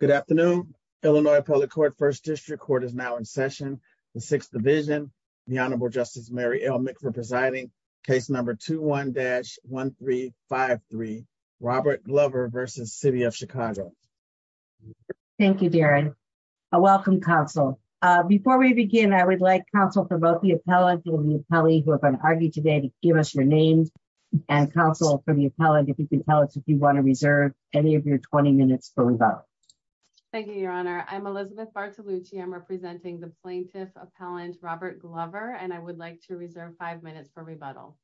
Good afternoon, Illinois public court first district court is now in session, the Sixth Division, the Honorable Justice Mary l mc for presiding case number 21 dash 1353 Robert Glover versus city of Chicago. Thank you, Darren. Welcome Council. Before we begin, I would like Council for both the appellant will be Kelly who have been argued today to give us your name, and Council for the appellant if you can tell us if you want to reserve any of your 20 minutes for about. Thank you, Your Honor, I'm Elizabeth Bartolucci I'm representing the plaintiff appellant Robert Glover and I would like to reserve five minutes for rebuttal.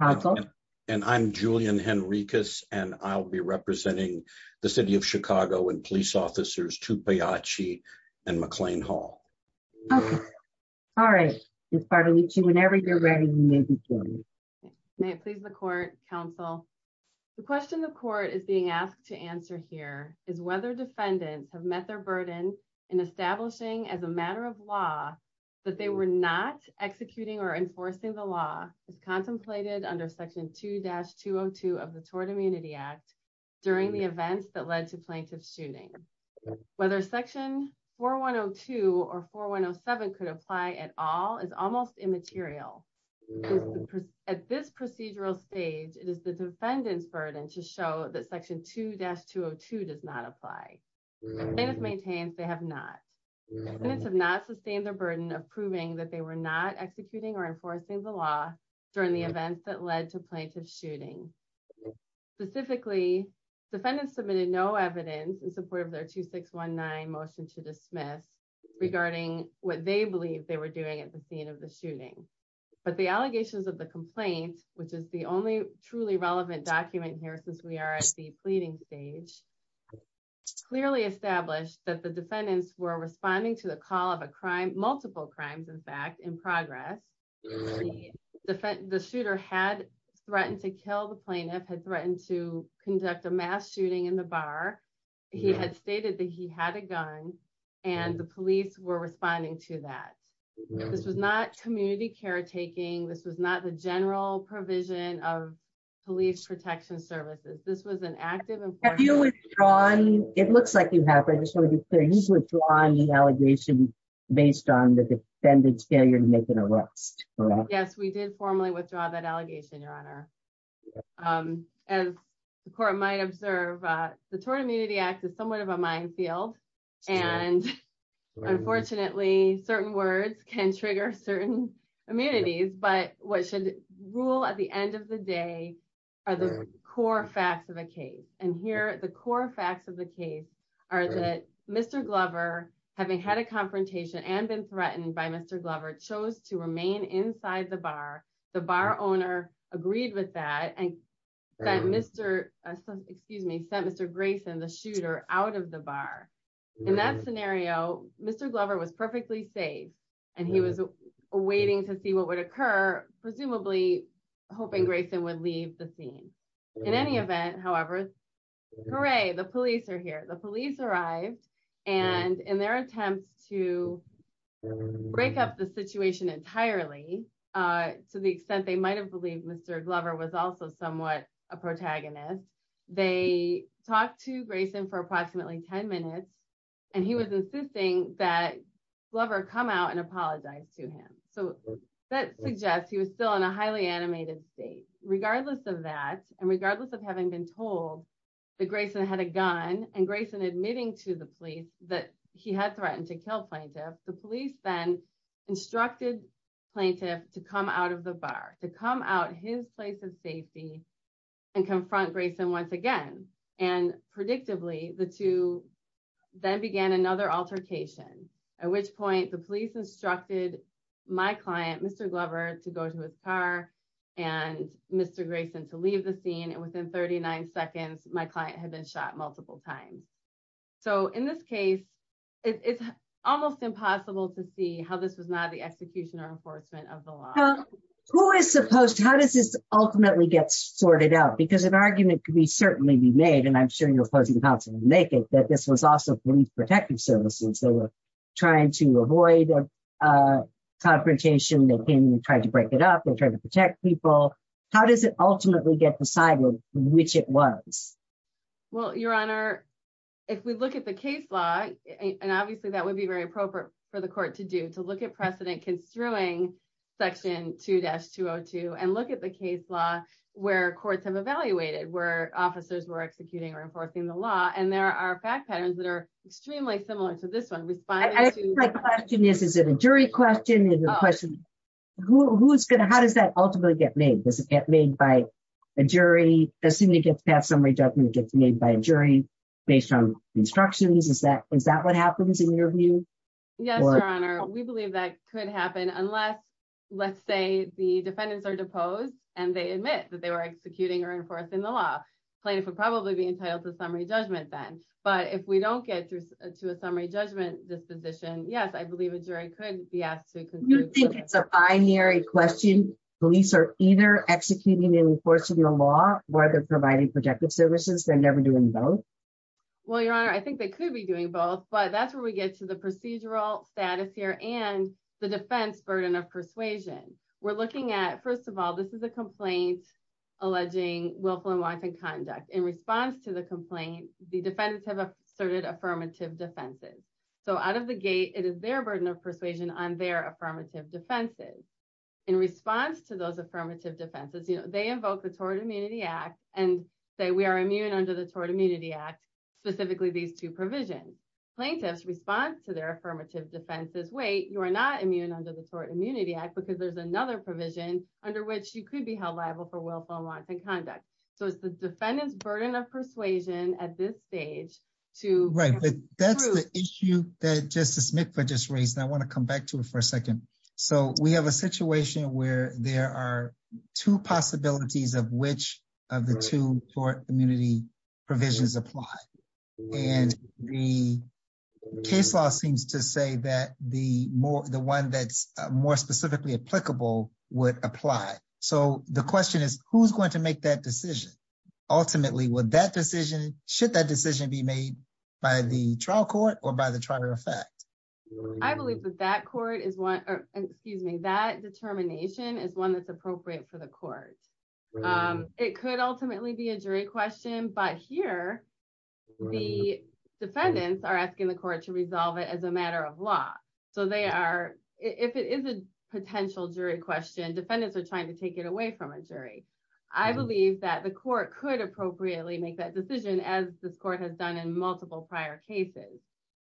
Okay. And I'm Julian Henricus, and I'll be representing the city of Chicago and police officers to pay a cheat and McLean Hall. All right. Whenever you're ready. Please the court Council. The question the court is being asked to answer here is whether defendants have met their burden in establishing as a matter of law that they were not executing or enforcing the law is contemplated under section two dash to have to have the tort during the events that led to plaintiff shooting, whether section for one or two or for one or seven could apply at all is almost immaterial. At this procedural stage, it is the defendant's burden to show that section two dash to have to does not apply. Maintains they have not have not sustained the burden of proving that they were not executing or enforcing the law during the events that led to plaintiff shooting. Specifically, defendants submitted no evidence in support of their 2619 motion to dismiss regarding what they believe they were doing at the scene of the shooting, but the allegations of the complaint, which is the only truly relevant document here since we are at the pleading stage clearly established that the defendants were responding to the call of a crime multiple crimes in fact in progress. The shooter had threatened to kill the plaintiff had threatened to conduct a mass shooting in the bar. He had stated that he had a gun, and the police were responding to that. This was not community caretaking this was not the general provision of police protection services, this was an active and you on, it looks like you have I just want to be clear he's withdrawing the allegation, based on the defendant's failure to make an arrest. Yes, we did formally withdraw that allegation, Your Honor. As the court might observe the tort immunity act is somewhat of a minefield. And unfortunately, certain words can trigger certain immunities but what should rule at the end of the day are the core facts of a case, and here are the core facts of the case are that Mr Glover, having had a confrontation and been threatened by Mr Glover chose to remain inside the bar, the bar owner agreed with that and that Mr. Excuse me sent Mr Grayson the shooter out of the bar. In that scenario, Mr Glover was perfectly safe, and he was waiting to see what would occur, presumably, hoping Grayson would leave the scene. In any event, however, hooray the police are here the police arrived, and in their attempts to break up the situation entirely. To the extent they might have believed Mr Glover was also somewhat a protagonist. They talked to Grayson for approximately 10 minutes, and he was insisting that lover come out and apologize to him. So, that suggests he was still in a highly animated state, regardless of that, and regardless of having been told that Grayson had a gun and Grayson admitting to the police that he had threatened to kill plaintiff, the police then instructed plaintiff to come out of the bar to come out his place of safety and confront Grayson once again, and predictably, the two. Then began another altercation, at which point the police instructed my client Mr Glover to go to his car and Mr Grayson to leave the scene and within 39 seconds, my client had been shot multiple times. So in this case, it's almost impossible to see how this was not the execution or enforcement of the law, who is supposed to how does this ultimately get sorted out because an argument can be certainly be made and I'm sure you're supposed to make it that protective services they were trying to avoid confrontation they can try to break it up and try to protect people. How does it ultimately get decided, which it was. Well, Your Honor. If we look at the case law, and obviously that would be very appropriate for the court to do to look at precedent construing section two dash 202 and look at the case law where courts have evaluated where officers were executing or enforcing the law and there are patterns that are extremely similar to this one response. Yes, is it a jury question is a question. Who's going to how does that ultimately get made doesn't get made by a jury, as soon as you get that summary judgment gets made by a jury based on instructions is that is that what happens in your view. Yes, Your Honor, we believe that could happen unless let's say the defendants are deposed, and they admit that they were executing or enforcing the law plaintiff would probably be entitled to summary judgment then, but if we don't get to a summary judgment disposition yes I believe a jury could be asked to. I hear a question, police are either executing and enforcing the law, where they're providing protective services they're never doing both. Well, Your Honor, I think they could be doing both but that's where we get to the procedural status here and the defense burden of persuasion, we're looking at first of all this is a complaint, alleging willful and wise and conduct in response to the complaint, the defendants have asserted affirmative defenses. So out of the gate, it is their burden of persuasion on their affirmative defenses. In response to those affirmative defenses you know they invoke the Tort Immunity Act, and say we are immune under the Tort Immunity Act, specifically these two provisions plaintiffs response to their affirmative defenses wait you are not immune under the Tort Immunity Act. So we have a situation where there are two possibilities of which of the two for immunity provisions apply, and the case law seems to say that the more the one that's more specifically applicable would apply. So the question is, who's going to make that decision. Ultimately, would that decision, should that decision be made by the trial court or by the trial of fact, I believe that that court is one, excuse me that determination is one that's appropriate for the court. It could ultimately be a jury question but here, the defendants are asking the court to resolve it as a matter of law. So they are, if it is a potential jury question defendants are trying to take it away from a jury. I believe that the court could appropriately make that decision as the court has done in multiple prior cases.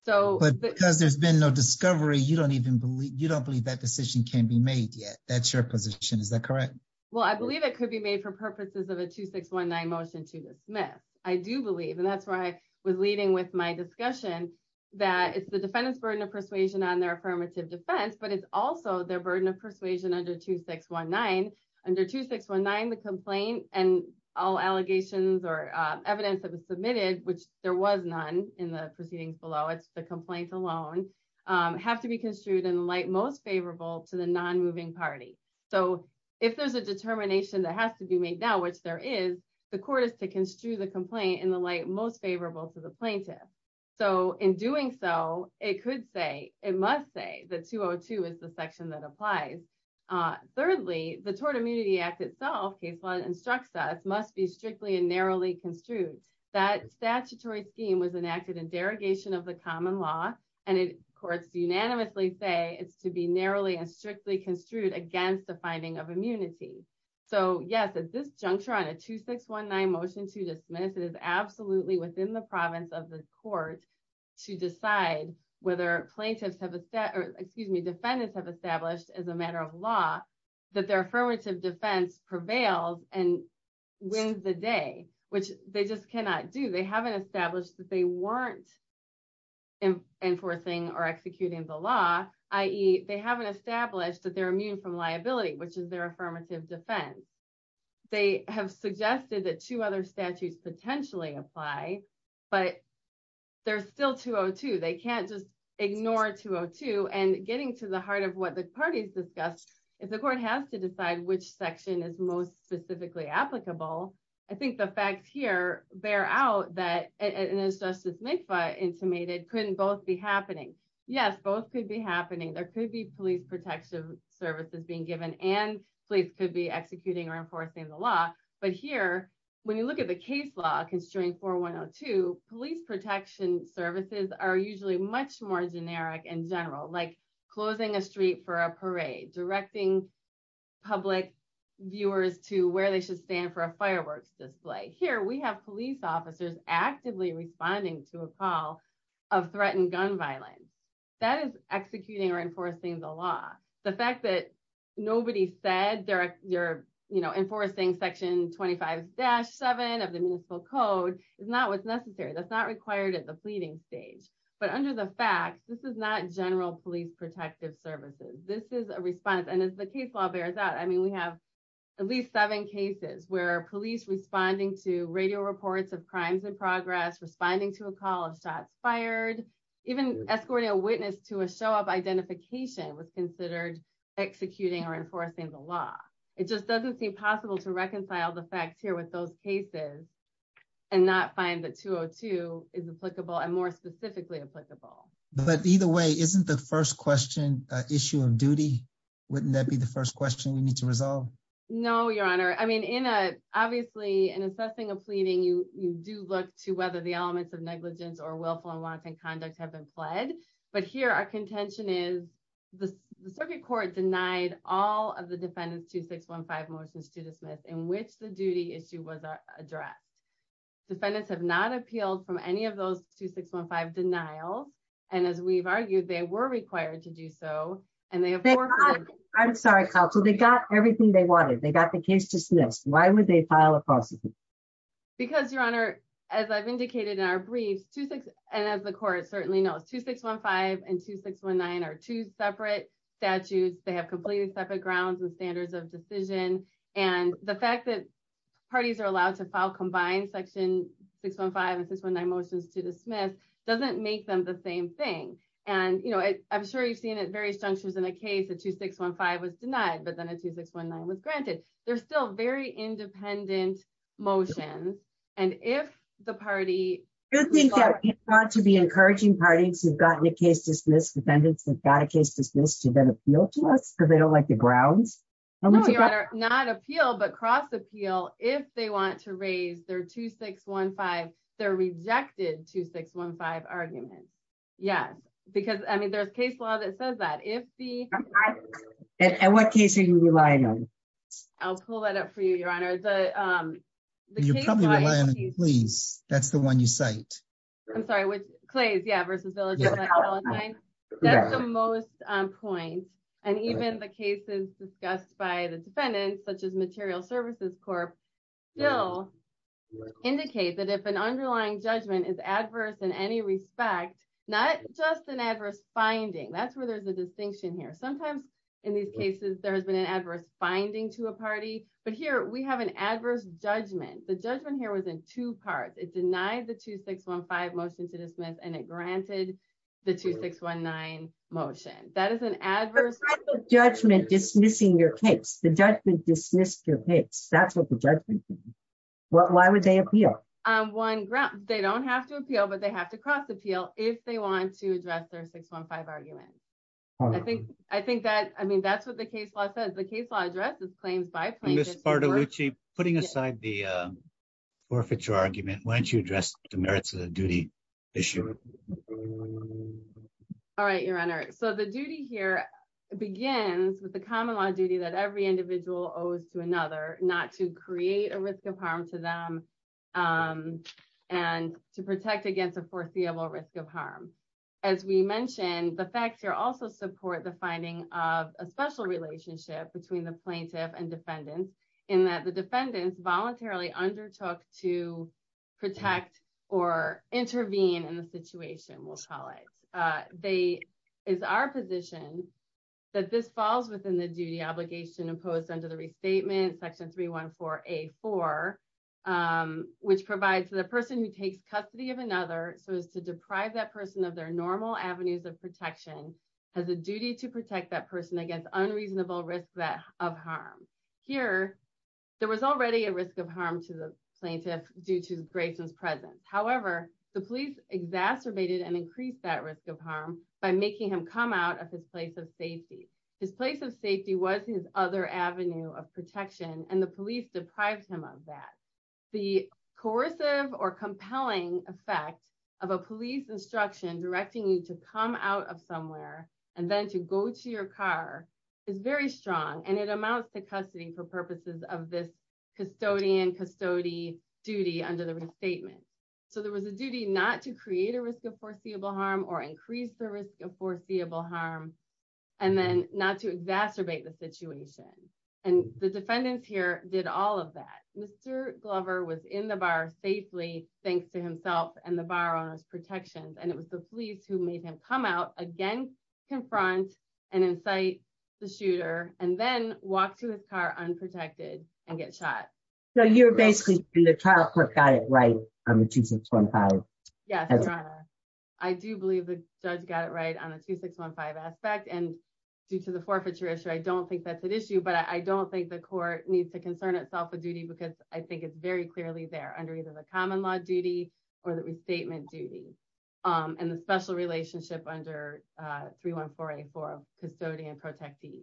So, because there's been no discovery you don't even believe you don't believe that decision can be made yet, that's your position is that correct. Well, I believe it could be made for purposes of a 2619 motion to dismiss. I do believe and that's where I was leading with my discussion that it's the defendants burden of persuasion on their affirmative defense but it's also their burden of persuasion under 2619 under 2619 the complaint, and all allegations or evidence that was submitted, which there was none in the proceedings below it's the complaint alone, have to be construed in light most favorable to the non moving party. So, if there's a determination that has to be made now which there is the court is to construe the complaint in the light most favorable to the plaintiff. So, in doing so, it could say, it must say the 202 is the section that applies. And thirdly, the Tort Immunity Act itself case law instructs us must be strictly and narrowly construed that statutory scheme was enacted and derogation of the common law, and it courts unanimously say it's to be narrowly and strictly construed against the finding of immunity. So yes it's this juncture on a 2619 motion to dismiss it is absolutely within the province of the court to decide whether plaintiffs have a set or excuse me defendants have established as a matter of law that their affirmative defense prevails, and when the day, which they just cannot do they haven't established that they weren't enforcing or executing the law, ie they haven't established that they're immune from liability which is their affirmative defense. They have suggested that two other statutes potentially apply, but there's still 202 they can't just ignore 202 and getting to the heart of what the parties discussed is the court has to decide which section is most specifically applicable. So, I think the facts here, bear out that it is justice make fun intimated couldn't both be happening. Yes, both could be happening there could be police protection services being given and please could be executing or enforcing the law, but here, when you display here we have police officers actively responding to a call of threatened gun violence that is executing or enforcing the law, the fact that nobody said there, you're, you know, enforcing section 25 dash seven of the municipal code is not what's necessary that's not required at the pleading stage, but under the facts, this is not general police protective services, this is a response and as the case law bears out I mean we have at least seven cases where police responding to radio reports of crimes in progress responding to a call of shots fired, even escorting a witness to a show of identification was considered executing or enforcing the law. It just doesn't seem possible to reconcile the facts here with those cases, and not find the 202 is applicable and more the elements of negligence or willful and wanton conduct have been fled. But here our contention is the circuit court denied all of the defendants to 615 motions to dismiss in which the duty issue was addressed defendants have not appealed from any of those to 615 denial. And as we've argued they were required to do so, and they have. I'm sorry, so they got everything they wanted they got the case dismissed, why would they file a lawsuit. Because your honor, as I've indicated in our briefs to six, and as the court certainly knows to 615 and 2619 or two separate statutes, they have completely separate grounds and standards of decision, and the fact that parties are allowed to file combined section 615 and 619 motions to dismiss doesn't make them the same thing. And, you know, I'm sure you've seen it various junctures in a case that 2615 was denied, but then a 2619 was granted, they're still very independent motion. And if the party to be encouraging parties who've gotten a case dismissed defendants and got a case dismissed to then appeal to us because they don't like the grounds. Not appeal but cross appeal, if they want to raise their 2615 they're rejected to 615 argument. Yes, because I mean there's case law that says that if the. At what case are you relying on. I'll pull that up for you, Your Honor. Please, that's the one you cite. I'm sorry, which plays yeah versus village. That's the most point. And even the cases discussed by the defendants, such as material services corp. indicate that if an underlying judgment is adverse in any respect, not just an adverse finding that's where there's a distinction here sometimes in these cases there has been an adverse finding to a party, but here we have an adverse judgment, the judgment that's what the judgment. Why would they appeal on one ground, they don't have to appeal but they have to cross appeal, if they want to address their 615 argument. I think, I think that I mean that's what the case law says the case law addresses claims by putting aside the forfeiture argument why don't you address the merits of the duty issue. All right, Your Honor, so the duty here begins with the common law duty that every individual owes to another, not to create a risk of harm to them, and to protect against a foreseeable risk of harm. As we mentioned, the facts are also support the finding of a special relationship between the plaintiff and defendants, in that the defendants voluntarily undertook to protect or intervene in the situation will call it. They is our position that this falls within the duty obligation imposed under the restatement section 314 a four, which provides the person who takes custody of another so as to deprive that person of their normal avenues of protection as a duty to protect that person against unreasonable risk that of harm. Here, there was already a risk of harm to the plaintiff, due to Grayson's presence, however, the police exacerbated and increase that risk of harm by making him come out of his place of safety, his place of safety was his other avenue of protection and the police deprived him of that the coercive or compelling effect of a police instruction directing you to come out of somewhere, and then to go to your car is very strong and it amounts to custody for purposes of this custodian custodian duty under the restatement. So there was a duty not to create a risk of foreseeable harm or increase the risk of foreseeable harm, and then not to exacerbate the situation. And the defendants here did all of that, Mr. Glover was in the bar safely, thanks to himself and the borrowers protections and it was the police who made him come out again, confront and incite the shooter, and then walk to his car unprotected and get shot. So you're basically in the trial court got it right. I'm choosing 25. Yeah. I do believe the judge got it right on a 2615 aspect and due to the forfeiture issue I don't think that's an issue but I don't think the court needs to concern itself a duty because I think it's very clearly there under either the common law duty, or the restatement duty, and the special relationship under 3148 for custodian protecting.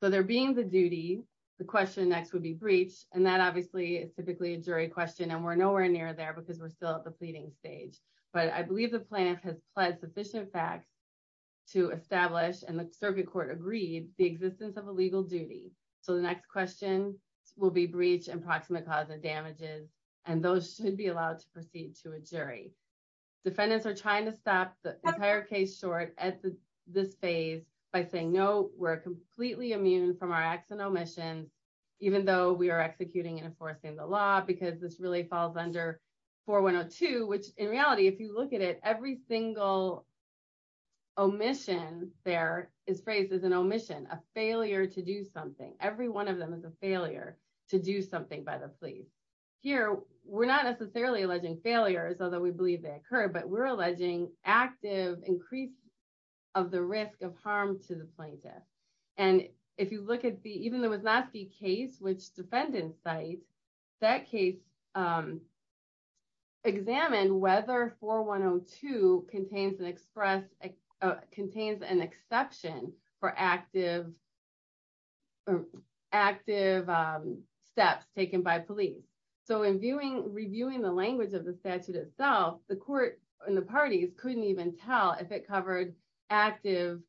So there being the duty. The question next would be breach, and that obviously is typically a jury question and we're nowhere near there because we're still at the pleading stage, but I believe the plan has pledged sufficient fact to establish and the circuit court agreed the existence of a legal duty. So the next question will be breach and proximate cause and damages, and those should be allowed to proceed to a jury defendants are trying to stop the entire case short at this phase by saying no, we're a failure to do something, every one of them is a failure to do something by the police here, we're not necessarily alleging failures, although we believe that occur but we're alleging active increase of the risk of harm to the plaintiff. And if you look at the even though it's not the case which defendant site that case, examine whether for one or two contains an express contains an exception for active, active steps taken by police. So in viewing reviewing the language of the statute itself, the court in the parties couldn't even tell if it covered active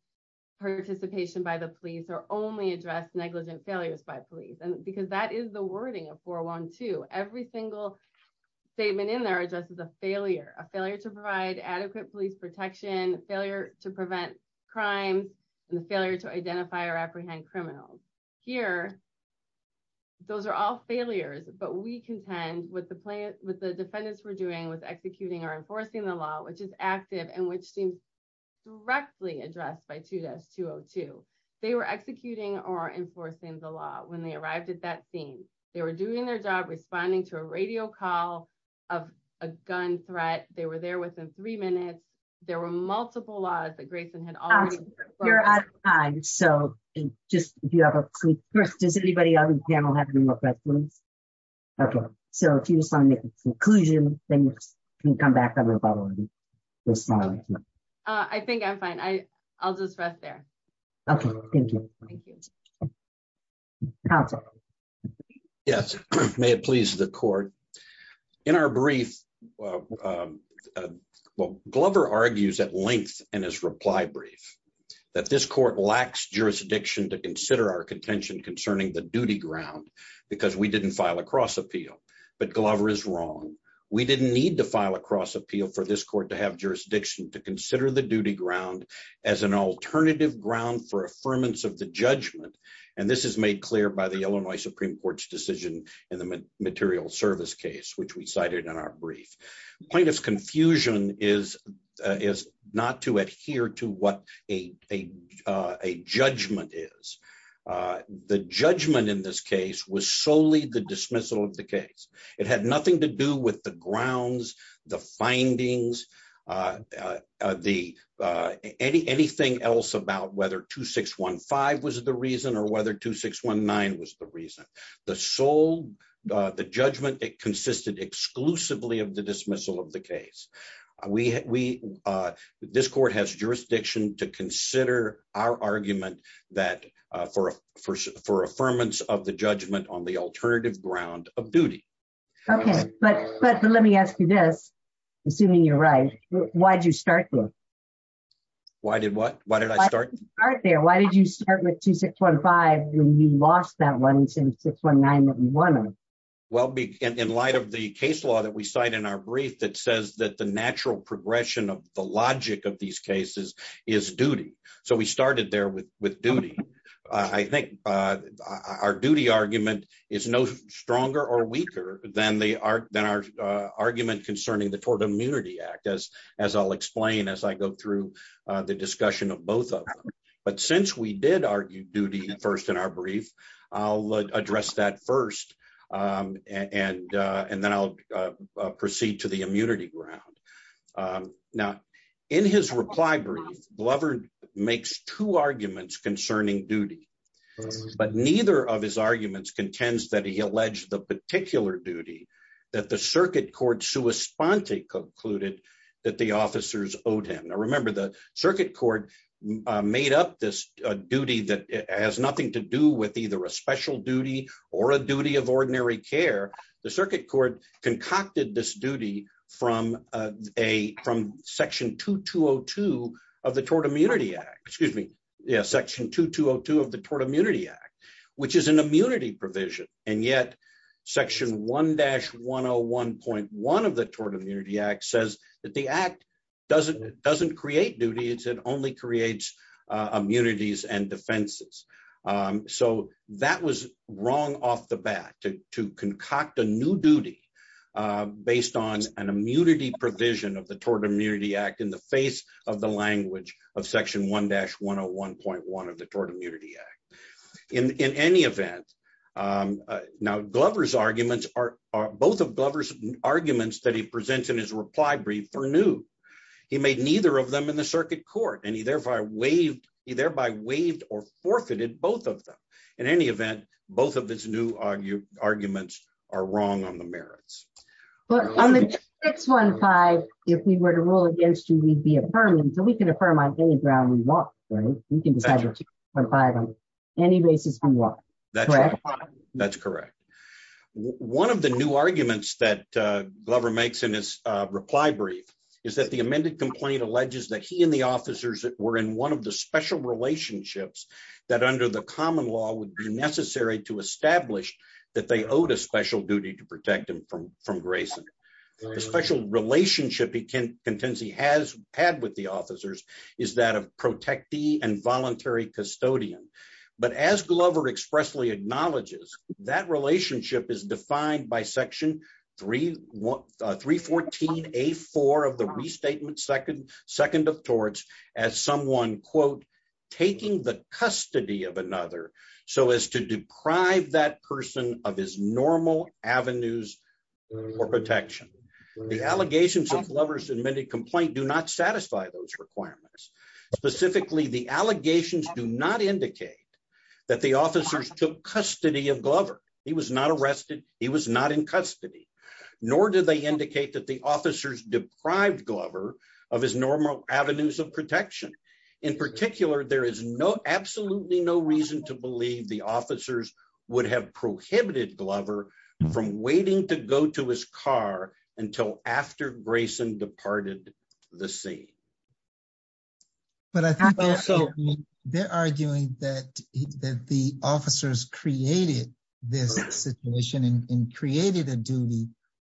participation by the police or only address negligent failures by police and because that is the wording of 412 every single statement in there addresses a failure, a failure to provide adequate police protection failure to prevent crime, and the failure to identify or apprehend criminals here. Those are all failures, but we contend with the plant with the defendants were doing was executing or enforcing the law which is active and which seems directly addressed by to this to to, they were executing or enforcing the law when they arrived at that scene, they were doing their job responding to a radio call of a gun threat, they were there within three minutes. There were multiple lives that Grayson had. So, just do you have a quick question does anybody else have any more questions. Okay, so if you just want to make a conclusion, then you can come back. I think I'm fine. I, I'll just rest there. Okay, thank you. Yes, may it please the court. In our brief. Well, Glover argues at length, and his reply brief that this court lacks jurisdiction to consider our contention concerning the duty ground, because we didn't file a cross appeal, but Glover is wrong. We didn't need to file a cross appeal for this court to have jurisdiction to consider the duty ground as an alternative ground for affirmance of the judgment. And this is made clear by the Illinois Supreme Court's decision in the material service case which we cited in our brief point of confusion is, is not to adhere to what a, a, a judgment is the judgment in this case was solely the dismissal of the case. It had nothing to do with the grounds, the findings. The any anything else about whether 2615 was the reason or whether 2619 was the reason the soul. The judgment that consisted exclusively of the dismissal of the case. We, we, this court has jurisdiction to consider our argument that for, for, for affirmance of the judgment on the alternative ground of duty. Okay, but, but let me ask you this. Assuming you're right. Why'd you start with. Why did what, why did I start there why did you start with to 615, we lost that one since 619. Well, in light of the case law that we cite in our brief that says that the natural progression of the logic of these cases is duty. So we started there with with duty. I think our duty argument is no stronger or weaker than the art than our argument concerning the Ford immunity act as, as I'll explain as I go through the discussion of both. But since we did argue duty first in our brief. I'll address that first. And, and then I'll proceed to the immunity ground. Now, in his reply brief lover makes two arguments concerning duty. But neither of his arguments contends that he alleged the particular duty that the circuit court suespanti concluded that the officers owed him I remember the circuit court made up this duty that has nothing to do with either a special duty or a duty of a from section 2202 of the tort immunity act, excuse me. Yeah, section 2202 of the tort immunity act, which is an immunity provision, and yet, section one dash 101.1 of the tort immunity act says that the act doesn't doesn't create duties and only creates immunities and defenses. So, that was wrong off the bat to concoct a new duty, based on an immunity provision of the tort immunity act in the face of the language of section one dash 101.1 of the tort immunity act. In any event, now Glover's arguments are both of Glover's arguments that he presents in his reply brief for new. He made neither of them in the circuit court and he therefore waived he thereby waived or forfeited both of them. In any event, both of his new argue arguments are wrong on the merits. On the 615, if we were to rule against you we'd be affirming so we can affirm on any ground we want, right, we can decide on any basis we want. That's correct. One of the new arguments that Glover makes in his reply brief is that the amended complaint alleges that he and the officers that were in one of the special relationships that under the common law would be necessary to establish that they owed a special relationship is defined by section 3113 14 a four of the restatement second second of torts, as someone quote, taking the custody of another, so as to deprive that person of his normal avenues for protection. The allegations of Glover's admitted complaint do not satisfy those requirements, specifically the allegations do not indicate that the officers took custody of Glover, he was not arrested, he was not in custody, nor did they indicate that the officers were in the bar until after Grayson departed the scene. But I think they're arguing that the officers created this situation and created a duty.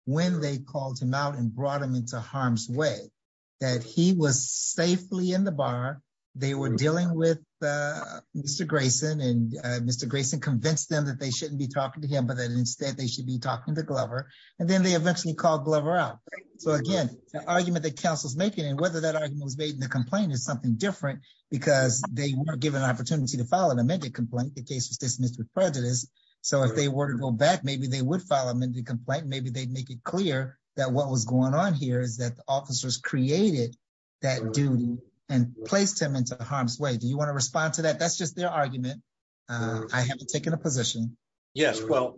When they called him out and brought him into harm's way that he was safely in the bar. They were dealing with Mr Grayson and Mr Grayson convinced them that they shouldn't be talking to him but then instead they should be talking to Glover, and then they eventually called Glover out. So again, the argument that councils making and whether that argument was made in the complaint is something different, because they were given an opportunity to follow them into complaint the case was dismissed with prejudice. So if they were to go back maybe they would follow them into complaint maybe they'd make it clear that what was going on here is that the officers created that do and placed him into harm's way. Do you want to respond to that that's just their argument. I haven't taken a position. Yes, well,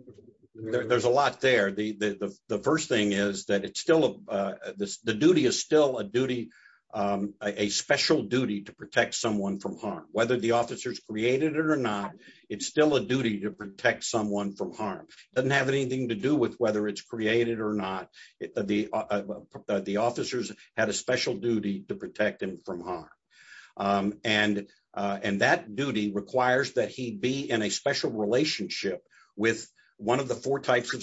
there's a lot there the first thing is that it's still the duty is still a duty. A special duty to protect someone from harm, whether the officers created it or not, it's still a duty to protect someone from harm doesn't have anything to do with whether it's created or not, the, the officers had a special duty to protect them from harm. And, and that duty requires that he'd be in a special relationship with one of the four types of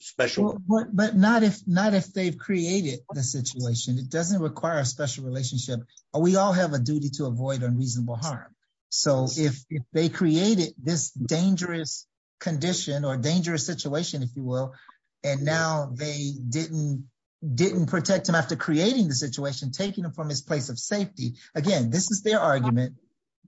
special, but not if not if they've created the situation it doesn't require a special relationship, or we all have a duty to avoid unreasonable harm. So if they created this dangerous condition or dangerous situation, if you will. And now they didn't didn't protect him after creating the situation taking them from his place of safety. Again, this is their argument,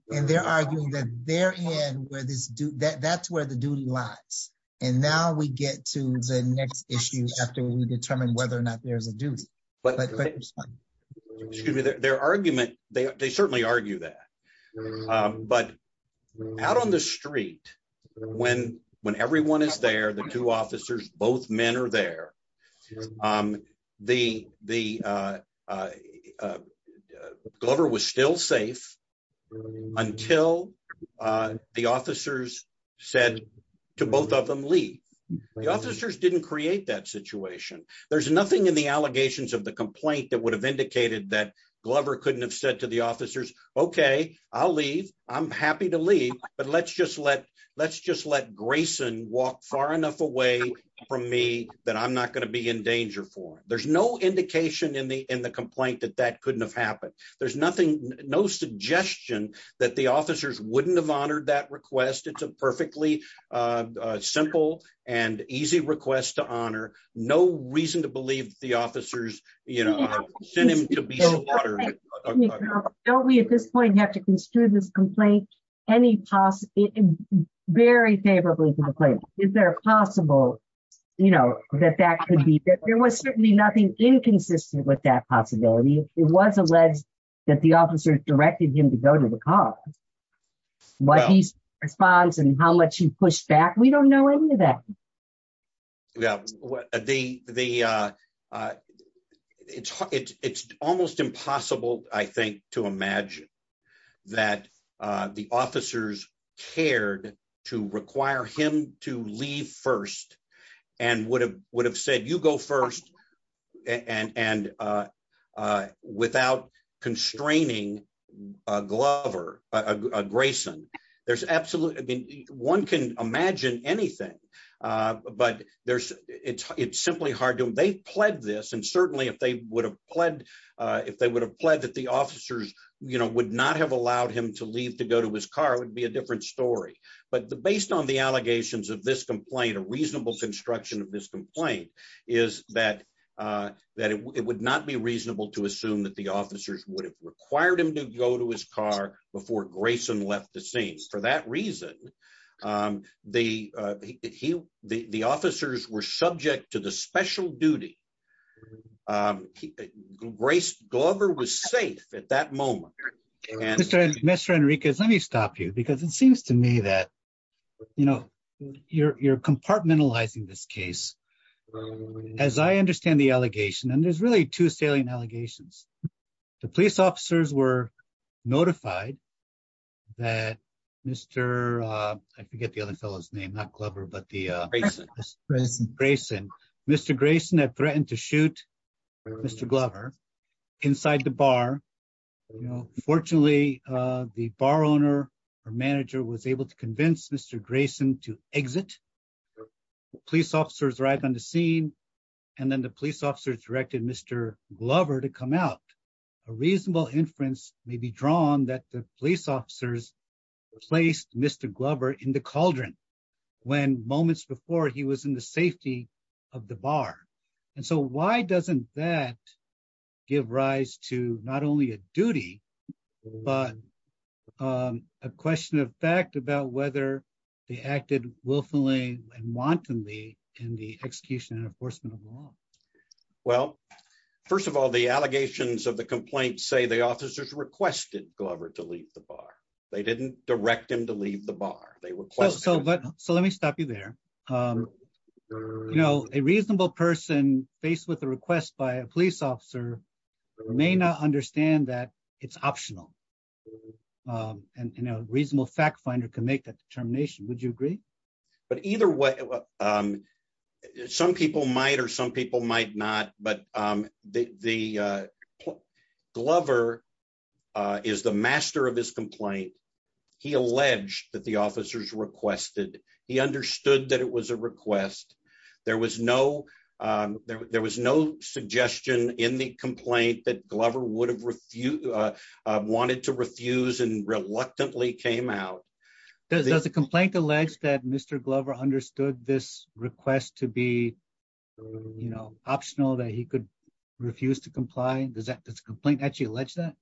and they're arguing that they're in where this do that that's where the duty lies. And now we get to the next issue after we determine whether or not there's a duty. But their argument, they certainly argue that. But out on the street. When, when everyone is there the two officers, both men are there. The, the There's nothing in the allegations of the complaint that would have indicated that Glover couldn't have said to the officers. Okay, I'll leave, I'm happy to leave, but let's just let let's just let Grayson walk far enough away from me that I'm not going to be in danger for there's no indication in the in the complaint that that couldn't have happened. There's nothing, no suggestion that the officers wouldn't have honored that request it's a perfectly simple and easy request to honor. No reason to believe the officers, you know, send him to be. Don't we at this point have to construe this complaint. Any toss it very favorably complaint. Is there a possible, you know, that that could be that there was certainly nothing inconsistent with that possibility, it was alleged that the officers directed him to go to the car. What he responds and how much you push back we don't know any of that. Yeah, the, the. It's, it's almost impossible, I think, to imagine that the officers cared to require him to leave first and would have would have said you go first. And, and, and without constraining Glover Grayson, there's absolutely one can imagine anything. But there's, it's, it's simply hard to they pled this and certainly if they would have pled. If they would have pled that the officers, you know, would not have allowed him to leave to go to his car would be a different story, but the based on the allegations of this complaint a reasonable construction of this complaint is that, that it would not be reasonable to assume that the officers would have required him to go to his car before Grayson left the scenes for that reason. The, he, the officers were subject to the special duty. Grace Glover was safe at that moment. Mr. Enriquez let me stop you because it seems to me that, you know, you're compartmentalizing this case. As I understand the allegation and there's really two salient allegations. The police officers were notified that Mr. I forget the other fellows name not clever but the Grayson Grayson Mr Grayson that threatened to shoot. Mr Glover inside the bar. Fortunately, the bar owner or manager was able to convince Mr Grayson to exit. Police officers right on the scene. And then the police officers directed Mr. Glover to come out a reasonable inference may be drawn that the police officers placed Mr Glover in the cauldron. When moments before he was in the safety of the bar. And so why doesn't that give rise to not only a duty, but a question of fact about whether they acted willfully and wantonly in the execution and enforcement of law. Well, first of all the allegations of the complaint say the officers requested Glover to leave the bar. They didn't direct him to leave the bar, they were close so but so let me stop you there. You know, a reasonable person faced with a request by a police officer may not understand that it's optional. And, you know, reasonable fact finder can make that determination. Would you agree. But either way. Some people might or some people might not, but the Glover is the master of this complaint. He alleged that the officers requested, he understood that it was a request. There was no there was no suggestion in the complaint that Glover would have refused wanted to refuse and reluctantly came out. There's a complaint alleged that Mr Glover understood this request to be, you know, optional that he could refuse to comply and does that this complaint actually alleged that.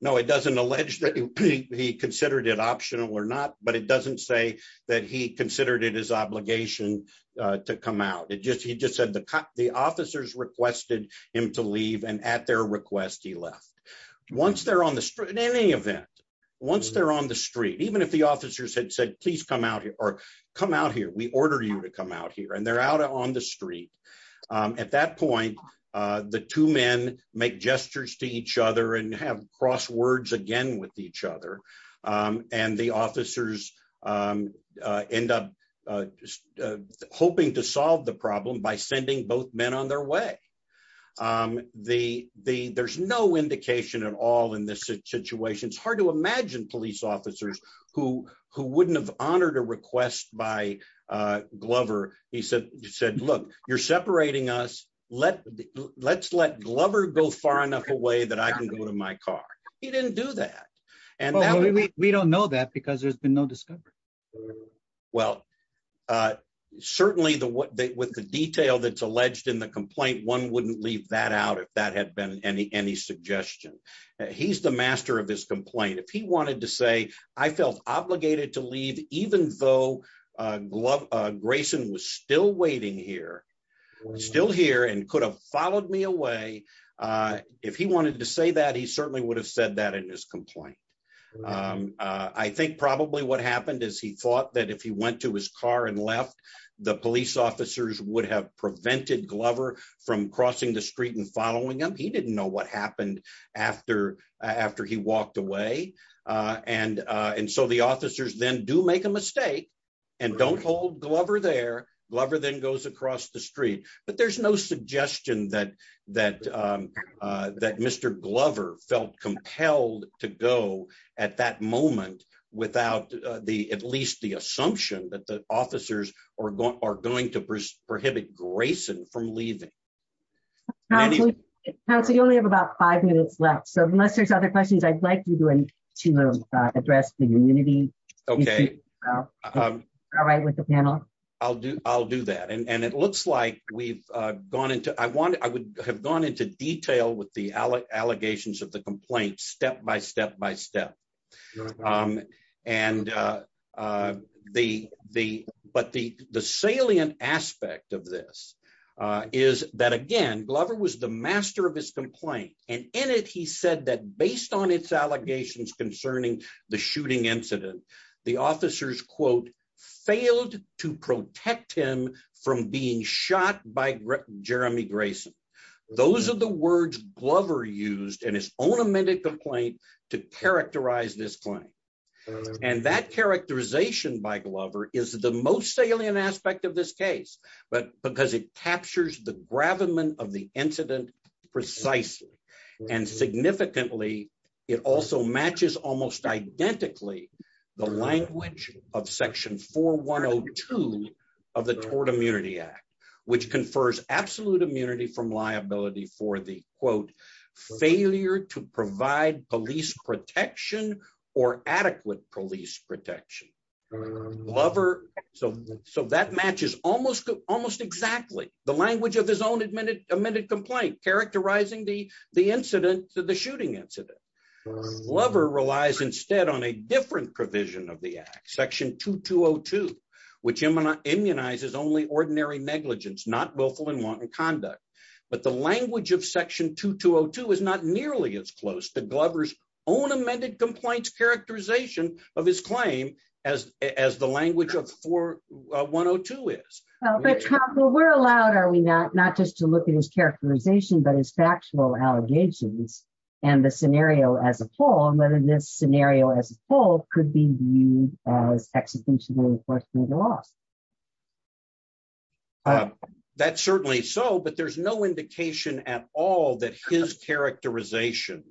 No, it doesn't allege that he considered it optional or not, but it doesn't say that he considered it his obligation to come out and just he just said the cut the officers requested him to leave and at their request he left. Once they're on the street in any event. Once they're on the street, even if the officers had said please come out here or come out here we order you to come out here and they're out on the street. At that point, the two men make gestures to each other and have crosswords again with each other. And the officers end up hoping to solve the problem by sending both men on their way. The, the, there's no indication at all in this situation it's hard to imagine police officers who who wouldn't have honored a request by Glover, he said, he said, Look, you're separating us, let, let's let Glover go far enough away that I can go to my car. He didn't do that. And we don't know that because there's been no discovery. Well, certainly the what they with the detail that's alleged in the complaint one wouldn't leave that out if that had been any any suggestion. He's the master of his complaint if he wanted to say, I felt obligated to leave, even though glove. Grayson was still waiting here. Still here and could have followed me away. If he wanted to say that he certainly would have said that in his complaint. I think probably what happened is he thought that if he went to his car and left the police officers would have prevented Glover from crossing the street and following him he didn't know what happened after after he walked away. And, and so the officers then do make a mistake. And don't hold Glover there Glover then goes across the street, but there's no suggestion that that that Mr Glover felt compelled to go at that moment, without the at least the assumption that the officers are going are going to prohibit Grayson from leaving. So you only have about five minutes left so unless there's other questions I'd like you to address the community. Okay. All right with the panel. I'll do, I'll do that and it looks like we've gone into I want, I would have gone into detail with the allegations of the complaint step by step by step. And the, the, but the, the salient aspect of this is that again Glover was the master of his complaint, and in it he said that based on its allegations concerning the shooting incident. The officers quote failed to protect him from being shot by Jeremy Grayson. Those are the words Glover used and his own amended complaint to characterize this claim. And that characterization by Glover is the most salient aspect of this case, but because it captures the gravamen of the incident, precisely, and significantly. It also matches almost identically the language of section 4102 of the Tort Immunity Act, which confers absolute immunity from liability for the quote failure to provide police protection or adequate police protection Glover. So, so that matches, almost, almost exactly the language of his own admitted amended complaint characterizing the, the incident to the shooting incident lover relies instead on a different provision of the section 2202, which immunizes only ordinary negligence not willful and wanton conduct, but the language of section 2202 is not nearly as close to Glover's own amended complaints characterization of his claim as, as the language of 4102 is, but we're allowed are we not not just to look at his characterization but his factual allegations, and the scenario as a whole and whether this scenario as a whole could be used as execution. Last. That's certainly so but there's no indication at all that his characterization,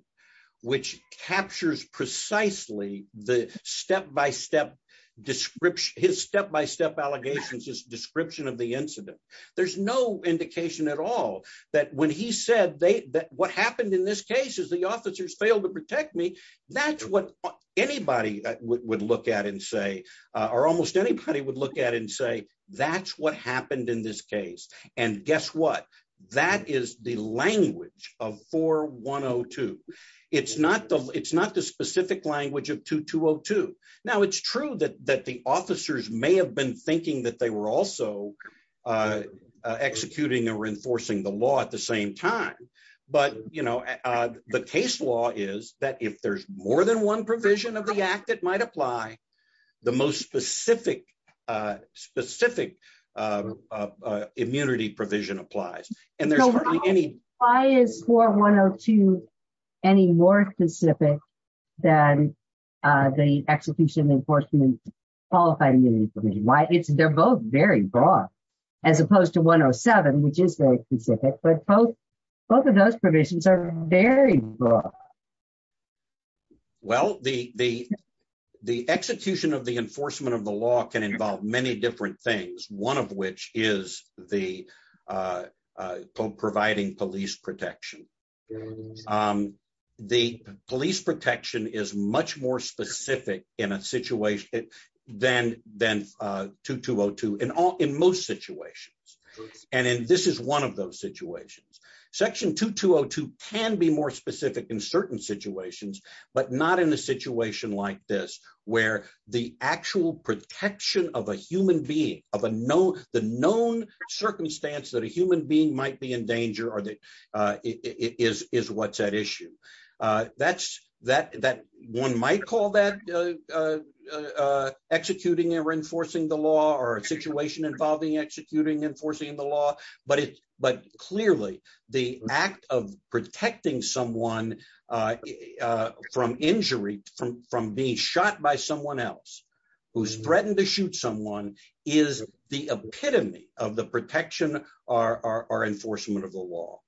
which captures precisely the step by step description his step by step allegations is description of the incident. There's no indication at all that when he said they that what happened in this case is the officers failed to protect me. That's what anybody would look at and say, or almost anybody would look at and say, that's what happened in this case. And guess what, that is the language of 4102. It's not the, it's not the specific language of 2202. Now it's true that that the officers may have been thinking that they were also executing or enforcing the law at the same time. But, you know, the case law is that if there's more than one provision of the act that might apply the most specific specific immunity provision applies, and there's any. Why is for one or two, any more specific than the execution enforcement qualified immunity for me why it's they're both very broad, as opposed to 107 which is very specific but both. Both of those provisions are very broad. Well, the, the, the execution of the enforcement of the law can involve many different things, one of which is the Pope providing police protection. The police protection is much more specific in a situation, then, then to to go to an all in most situations. And this is one of those situations, section to to can be more specific in certain situations, but not in a situation like this, where the is what's at issue. That's that that one might call that executing or enforcing the law or a situation involving executing enforcing the law, but it, but clearly the act of protecting someone from injury from from being shot by someone else who's threatened to shoot someone is the epitome of the protection, our enforcement of the law.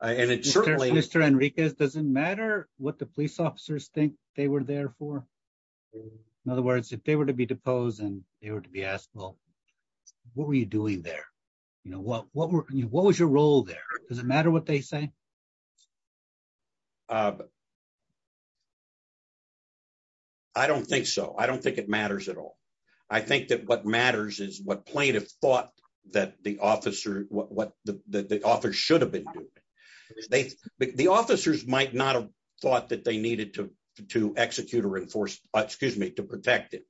And it certainly Mr Enriquez doesn't matter what the police officers think they were there for. In other words, if they were to be deposed and they were to be asked, Well, what were you doing there. You know what what what was your role there, does it matter what they say. I don't think so. I don't think it matters at all. I think that what matters is what plaintiff thought that the officer, what the author should have been. They, the officers might not have thought that they needed to to execute or enforce, excuse me to protect it.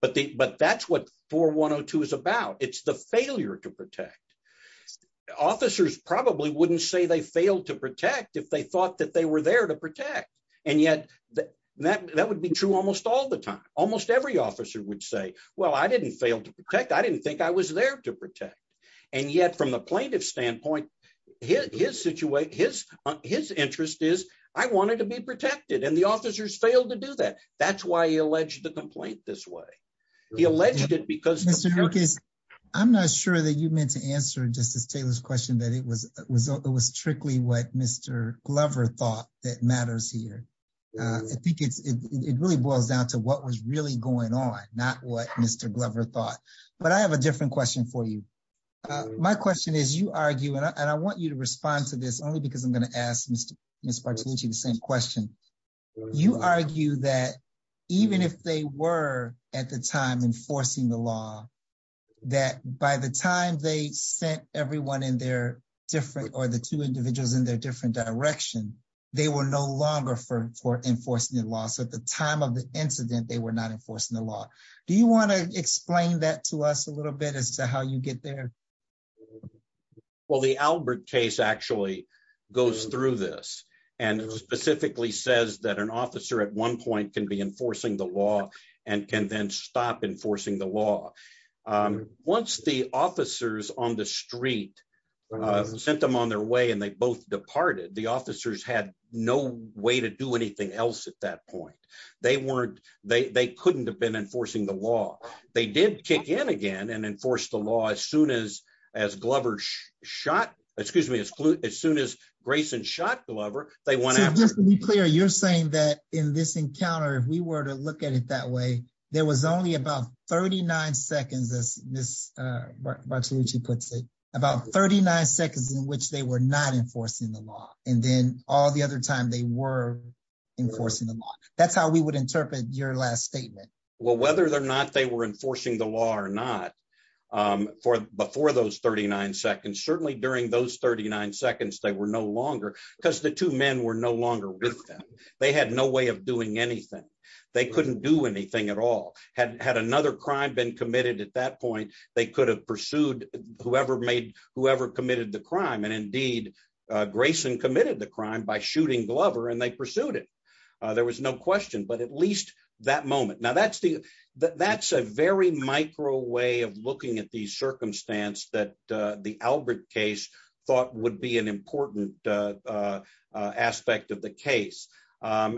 But the but that's what for one or two is about it's the failure to protect. Officers probably wouldn't say they failed to protect if they thought that they were there to protect. And yet, that that would be true almost all the time, almost every officer would say, Well, I didn't fail to protect I didn't think I was there to protect. And yet from the plaintiff standpoint, his situation, his, his interest is, I wanted to be protected and the officers failed to do that. That's why he alleged the complaint this way. He alleged it because Mr. Lucas. I'm not sure that you meant to answer justice Taylor's question that it was, it was strictly what Mr. Glover thought that matters here. I think it's, it really boils down to what was really going on, not what Mr Glover thought, but I have a different question for you. My question is, you argue and I want you to respond to this only because I'm going to ask Mr. Mr to the same question. You argue that even if they were at the time enforcing the law that by the time they sent everyone in their different or the two individuals in their different direction. They were no longer for enforcing the law so at the time of the incident they were not enforcing the law. Do you want to explain that to us a little bit as to how you get there. Well the Albert case actually goes through this, and specifically says that an officer at one point can be enforcing the law, and can then stop enforcing the law. Once the officers on the street sent them on their way and they both departed the officers had no way to do anything else at that point, they weren't, they couldn't have been enforcing the law, they did kick in again and enforce the law as soon as, as Glover puts it about 39 seconds in which they were not enforcing the law, and then all the other time they were enforcing the law. That's how we would interpret your last statement. Well, whether they're not they were enforcing the law or not. For before those 39 seconds certainly during those 39 seconds they were no longer because the two men were no longer with them. They had no way of doing anything. They couldn't do anything at all, had had another crime been committed at that point, they could have pursued, whoever made whoever committed the crime and indeed Grayson committed the crime by shooting Glover and they pursued it. There was no question but at least that moment now that's the, that's a very micro way of looking at the circumstance that the Albert case thought would be an important aspect of the case.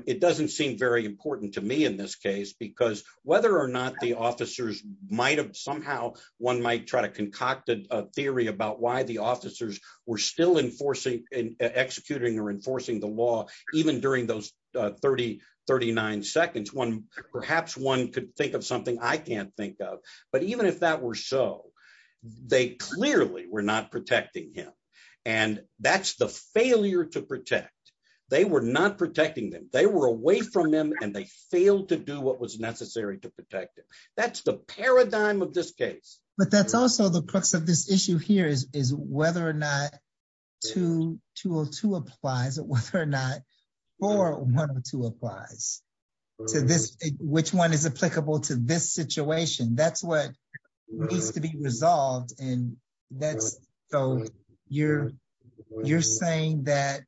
It doesn't seem very important to me in this case because whether or not the officers might have somehow one might try to concoct a theory about why the officers were still enforcing and executing or enforcing the law, even during those 3039 seconds perhaps one could think of something I can't think of, but even if that were so they clearly were not protecting him. And that's the failure to protect. They were not protecting them, they were away from them, and they failed to do what was necessary to protect it. That's the paradigm of this case, but that's also the crux of this issue here is, is whether or not to to to applies or whether or not, or one or two applies to this, which one is applicable to this situation that's what needs to be resolved, and that's, so you're, you're saying that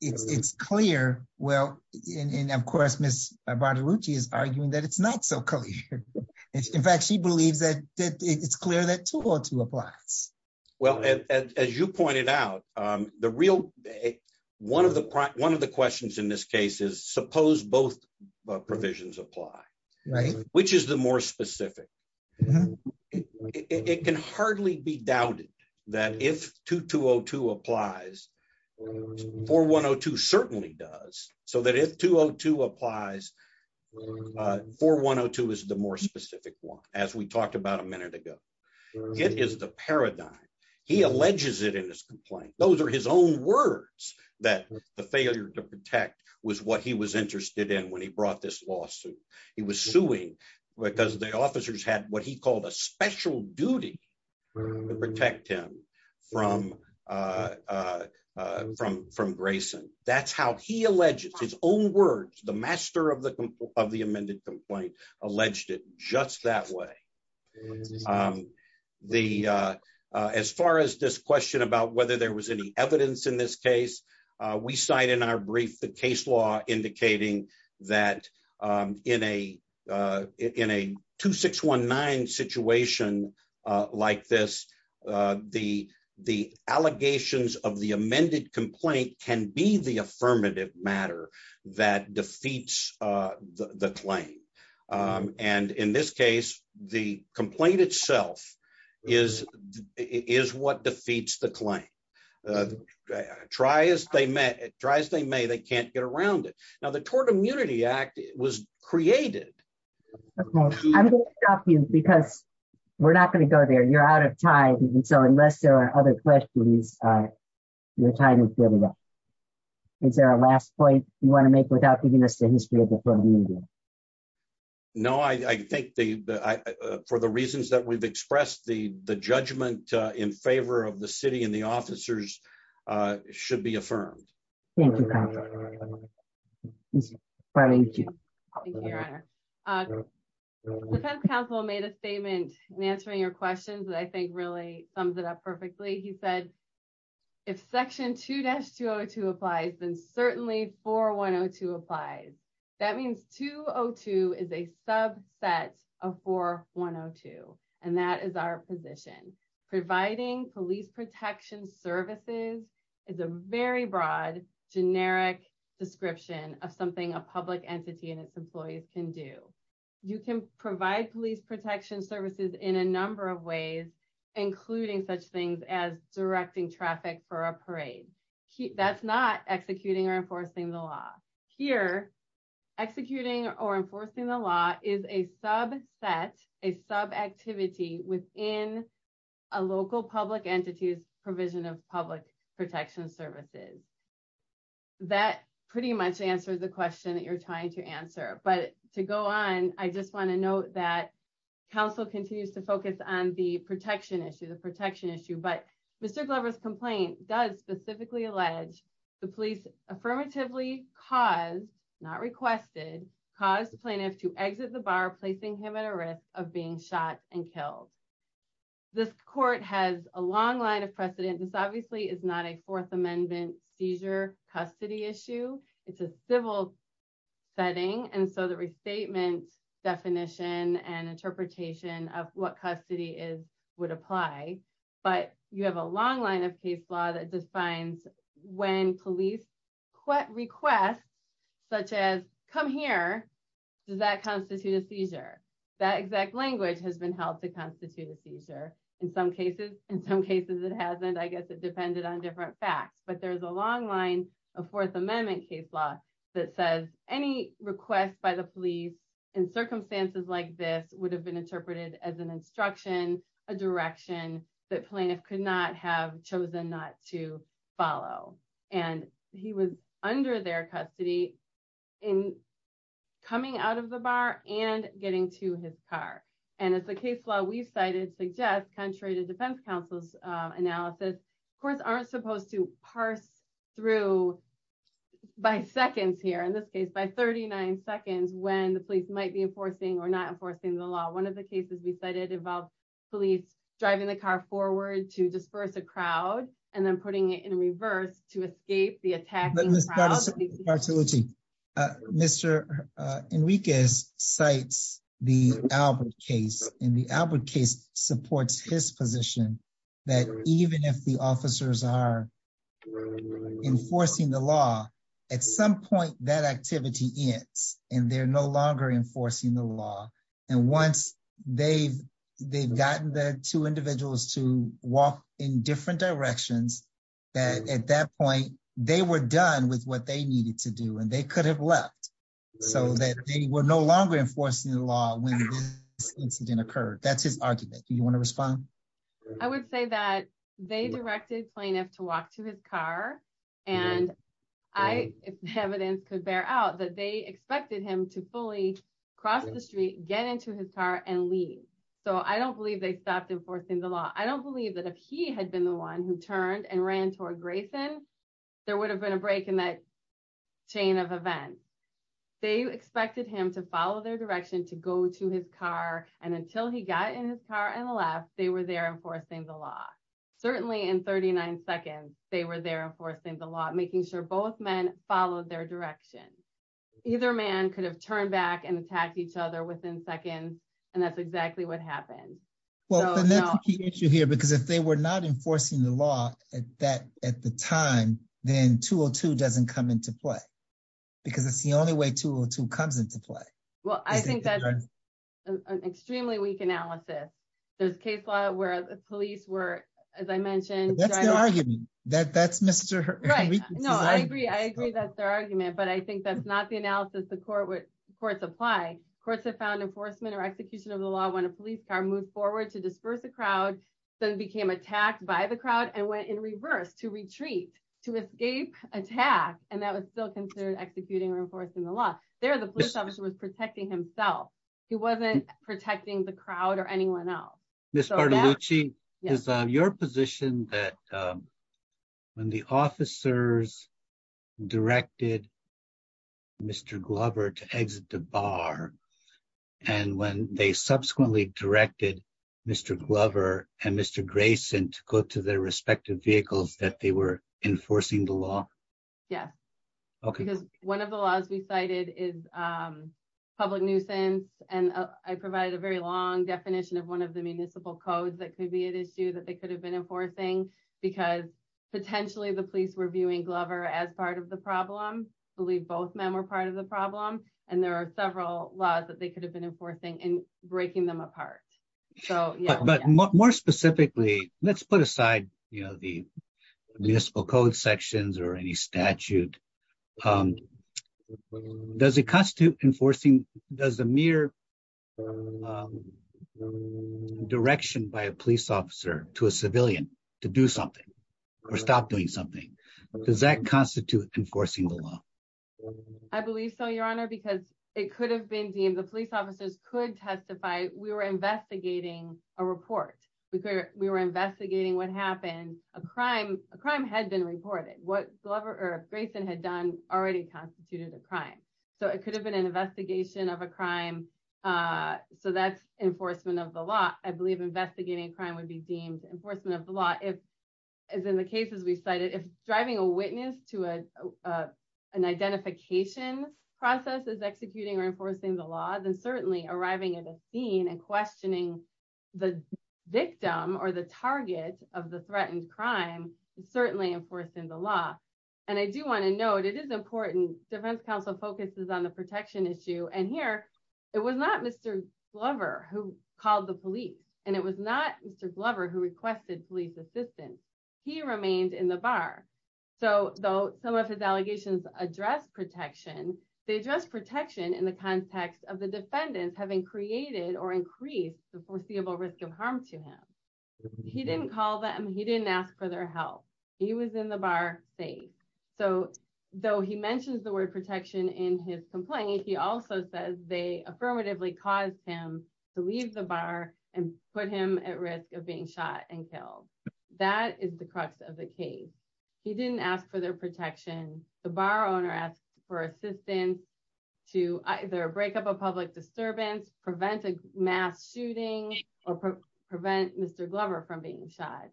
it's clear. Well, and of course Miss body routine is arguing that it's not so clear. In fact, she believes that it's clear that to apply. Well, as you pointed out, the real. One of the, one of the questions in this case is suppose both provisions apply, right, which is the more specific. It can hardly be doubted that if to to applies for one or two certainly does so that if to to applies for one or two is the more specific one, as we talked about a minute ago. It is the paradigm. He alleges it in his complaint, those are his own words that the failure to protect was what he was interested in when he brought this lawsuit. He was suing, because the officers had what he called a special duty to protect him from from from Grayson, that's how he alleges his own words, the master of the of the amended complaint alleged it just that way. The. As far as this question about whether there was any evidence in this case we cite in our brief the case law, indicating that in a in a 2619 situation like this. The, the allegations of the amended complaint can be the affirmative matter that defeats the claim. And in this case, the complaint itself is, is what defeats the claim. Try as they may try as they may they can't get around it. Now the Tort Immunity Act was created. Because we're not going to go there you're out of time. So unless there are other questions. Your time. Is there a last point you want to make without giving us the history of the program. No, I think the, for the reasons that we've expressed the the judgment in favor of the city and the officers should be affirmed. Thank you. Thank you. Council made a statement, and answering your questions that I think really sums it up perfectly he said, if section two dash to apply, then certainly for one or two applies. That means 202 is a subset of for one or two, and that is our position, providing police protection services is a very broad generic description of something a public entity and its employees can do. You can provide police protection services in a number of ways, including such things as directing traffic for a parade. That's not executing or enforcing the law here, executing or enforcing the law is a sub set a sub activity within a local public entities provision of public protection services. That pretty much answers the question that you're trying to answer but to go on, I just want to note that council continues to focus on the protection issue the protection issue but Mr Glover's complaint does specifically allege the police affirmatively cause not requested cause plaintiff to exit the bar placing him at a risk of being shot and killed. This court has a long line of precedent this obviously is not a Fourth Amendment seizure custody issue. It's a civil setting and so the restatement definition and interpretation of what custody is would apply, but you have a long line of case law that In some cases, in some cases it hasn't I guess it depended on different facts but there's a long line of Fourth Amendment case law that says, any request by the police in circumstances like this would have been interpreted as an instruction, a direction that plaintiff could not have chosen not to follow, and he was under their custody in coming out of the bar and getting to his car. And as the case law we've cited suggest contrary to defense counsel's analysis course aren't supposed to parse through by seconds here in this case by 39 seconds when the police might be enforcing or not enforcing the law one of the cases we cited about police driving the car forward to disperse a crowd, and then putting it in reverse to escape the attack. Mr. Enriquez cites the Albert case in the Albert case supports his position that even if the officers are enforcing the law. At some point that activity is, and they're no longer enforcing the law. And once they've, they've gotten the two individuals to walk in different directions that at that point, they were done with what they needed to do and they could have left, so that they were no longer enforcing the law when incident occurred, that's his argument I would say that they directed plaintiff to walk to his car, and I have evidence could bear out that they expected him to fully cross the street, get into his car and leave. So I don't believe they stopped enforcing the law I don't believe that if he had been the one who turned and ran toward Grayson, there would have been a break in that chain of events. They expected him to follow their direction to go to his car, and until he got in his car and left, they were there enforcing the law, certainly in 39 seconds, they were there enforcing the law, making sure both men, follow their direction. Either man could have turned back and attacked each other within seconds. And that's exactly what happened. Well, the issue here because if they were not enforcing the law that at the time, then two or two doesn't come into play. Because it's the only way to to comes into play. Well, I think that's an extremely weak analysis. There's case law where the police were, as I mentioned, that that's Mr. No, I agree I agree that's their argument but I think that's not the analysis the court with courts apply courts have found enforcement or execution of the law when a police car moved forward to disperse the crowd, then became attacked by the crowd and went in reverse to retreat to escape attack, and that was still considered executing reinforcing the law there the police officer was protecting himself. He wasn't protecting the crowd or anyone else. This is your position that when the officers directed Mr Glover to exit the bar. And when they subsequently directed Mr Glover, and Mr Grayson to go to their respective vehicles that they were enforcing the law. Yes. Okay, because one of the laws we cited is public nuisance, and I provided a very long definition of one of the municipal codes that could be an issue that they could have been enforcing, because potentially the police were viewing Glover as part of the problem. I believe both men were part of the problem. And there are several laws that they could have been enforcing and breaking them apart. So, but more specifically, let's put aside, you know, the municipal code sections or any statute. Does it constitute enforcing does the mere direction by a police officer to a civilian to do something or stop doing something. Does that constitute enforcing the law. I believe so your honor because it could have been deemed the police officers could testify, we were investigating a report, we were investigating what happened, a crime, a crime had been reported what Glover or Grayson had done already constituted a crime. So it could have been an investigation of a crime. So that's enforcement of the law, I believe investigating crime would be deemed enforcement of the law if, as in the cases we cited if driving a witness to a, an identification process is executing or enforcing the laws and certainly arriving at a scene and And here, it was not Mr. Glover, who called the police, and it was not Mr Glover who requested police assistance. He remained in the bar. So, though, some of his allegations address protection, they just protection in the context of the defendants having created the foreseeable risk of harm to him. He didn't call them he didn't ask for their help. He was in the bar safe. So, though he mentions the word protection in his complaint he also says they affirmatively caused him to leave the bar and put him at risk of being shot and killed. That is the crux of the case. He didn't ask for their protection, the bar owner asked for assistance to either break up a public disturbance prevent mass shooting or prevent Mr Glover from being shot.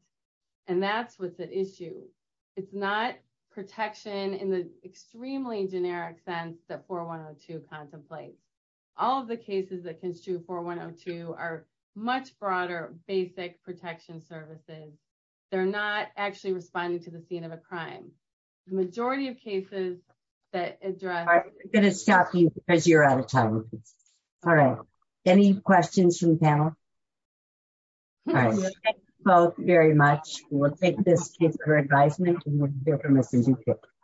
And that's what's at issue. It's not protection in the extremely generic sense that for one or two contemplate all the cases that can shoot for one or two are much broader basic protection services. They're not actually responding to the scene of a crime, majority of cases that address going to stop you as you're out of time. All right. Any questions from panel. Well, very much. We'll take this case for advisement.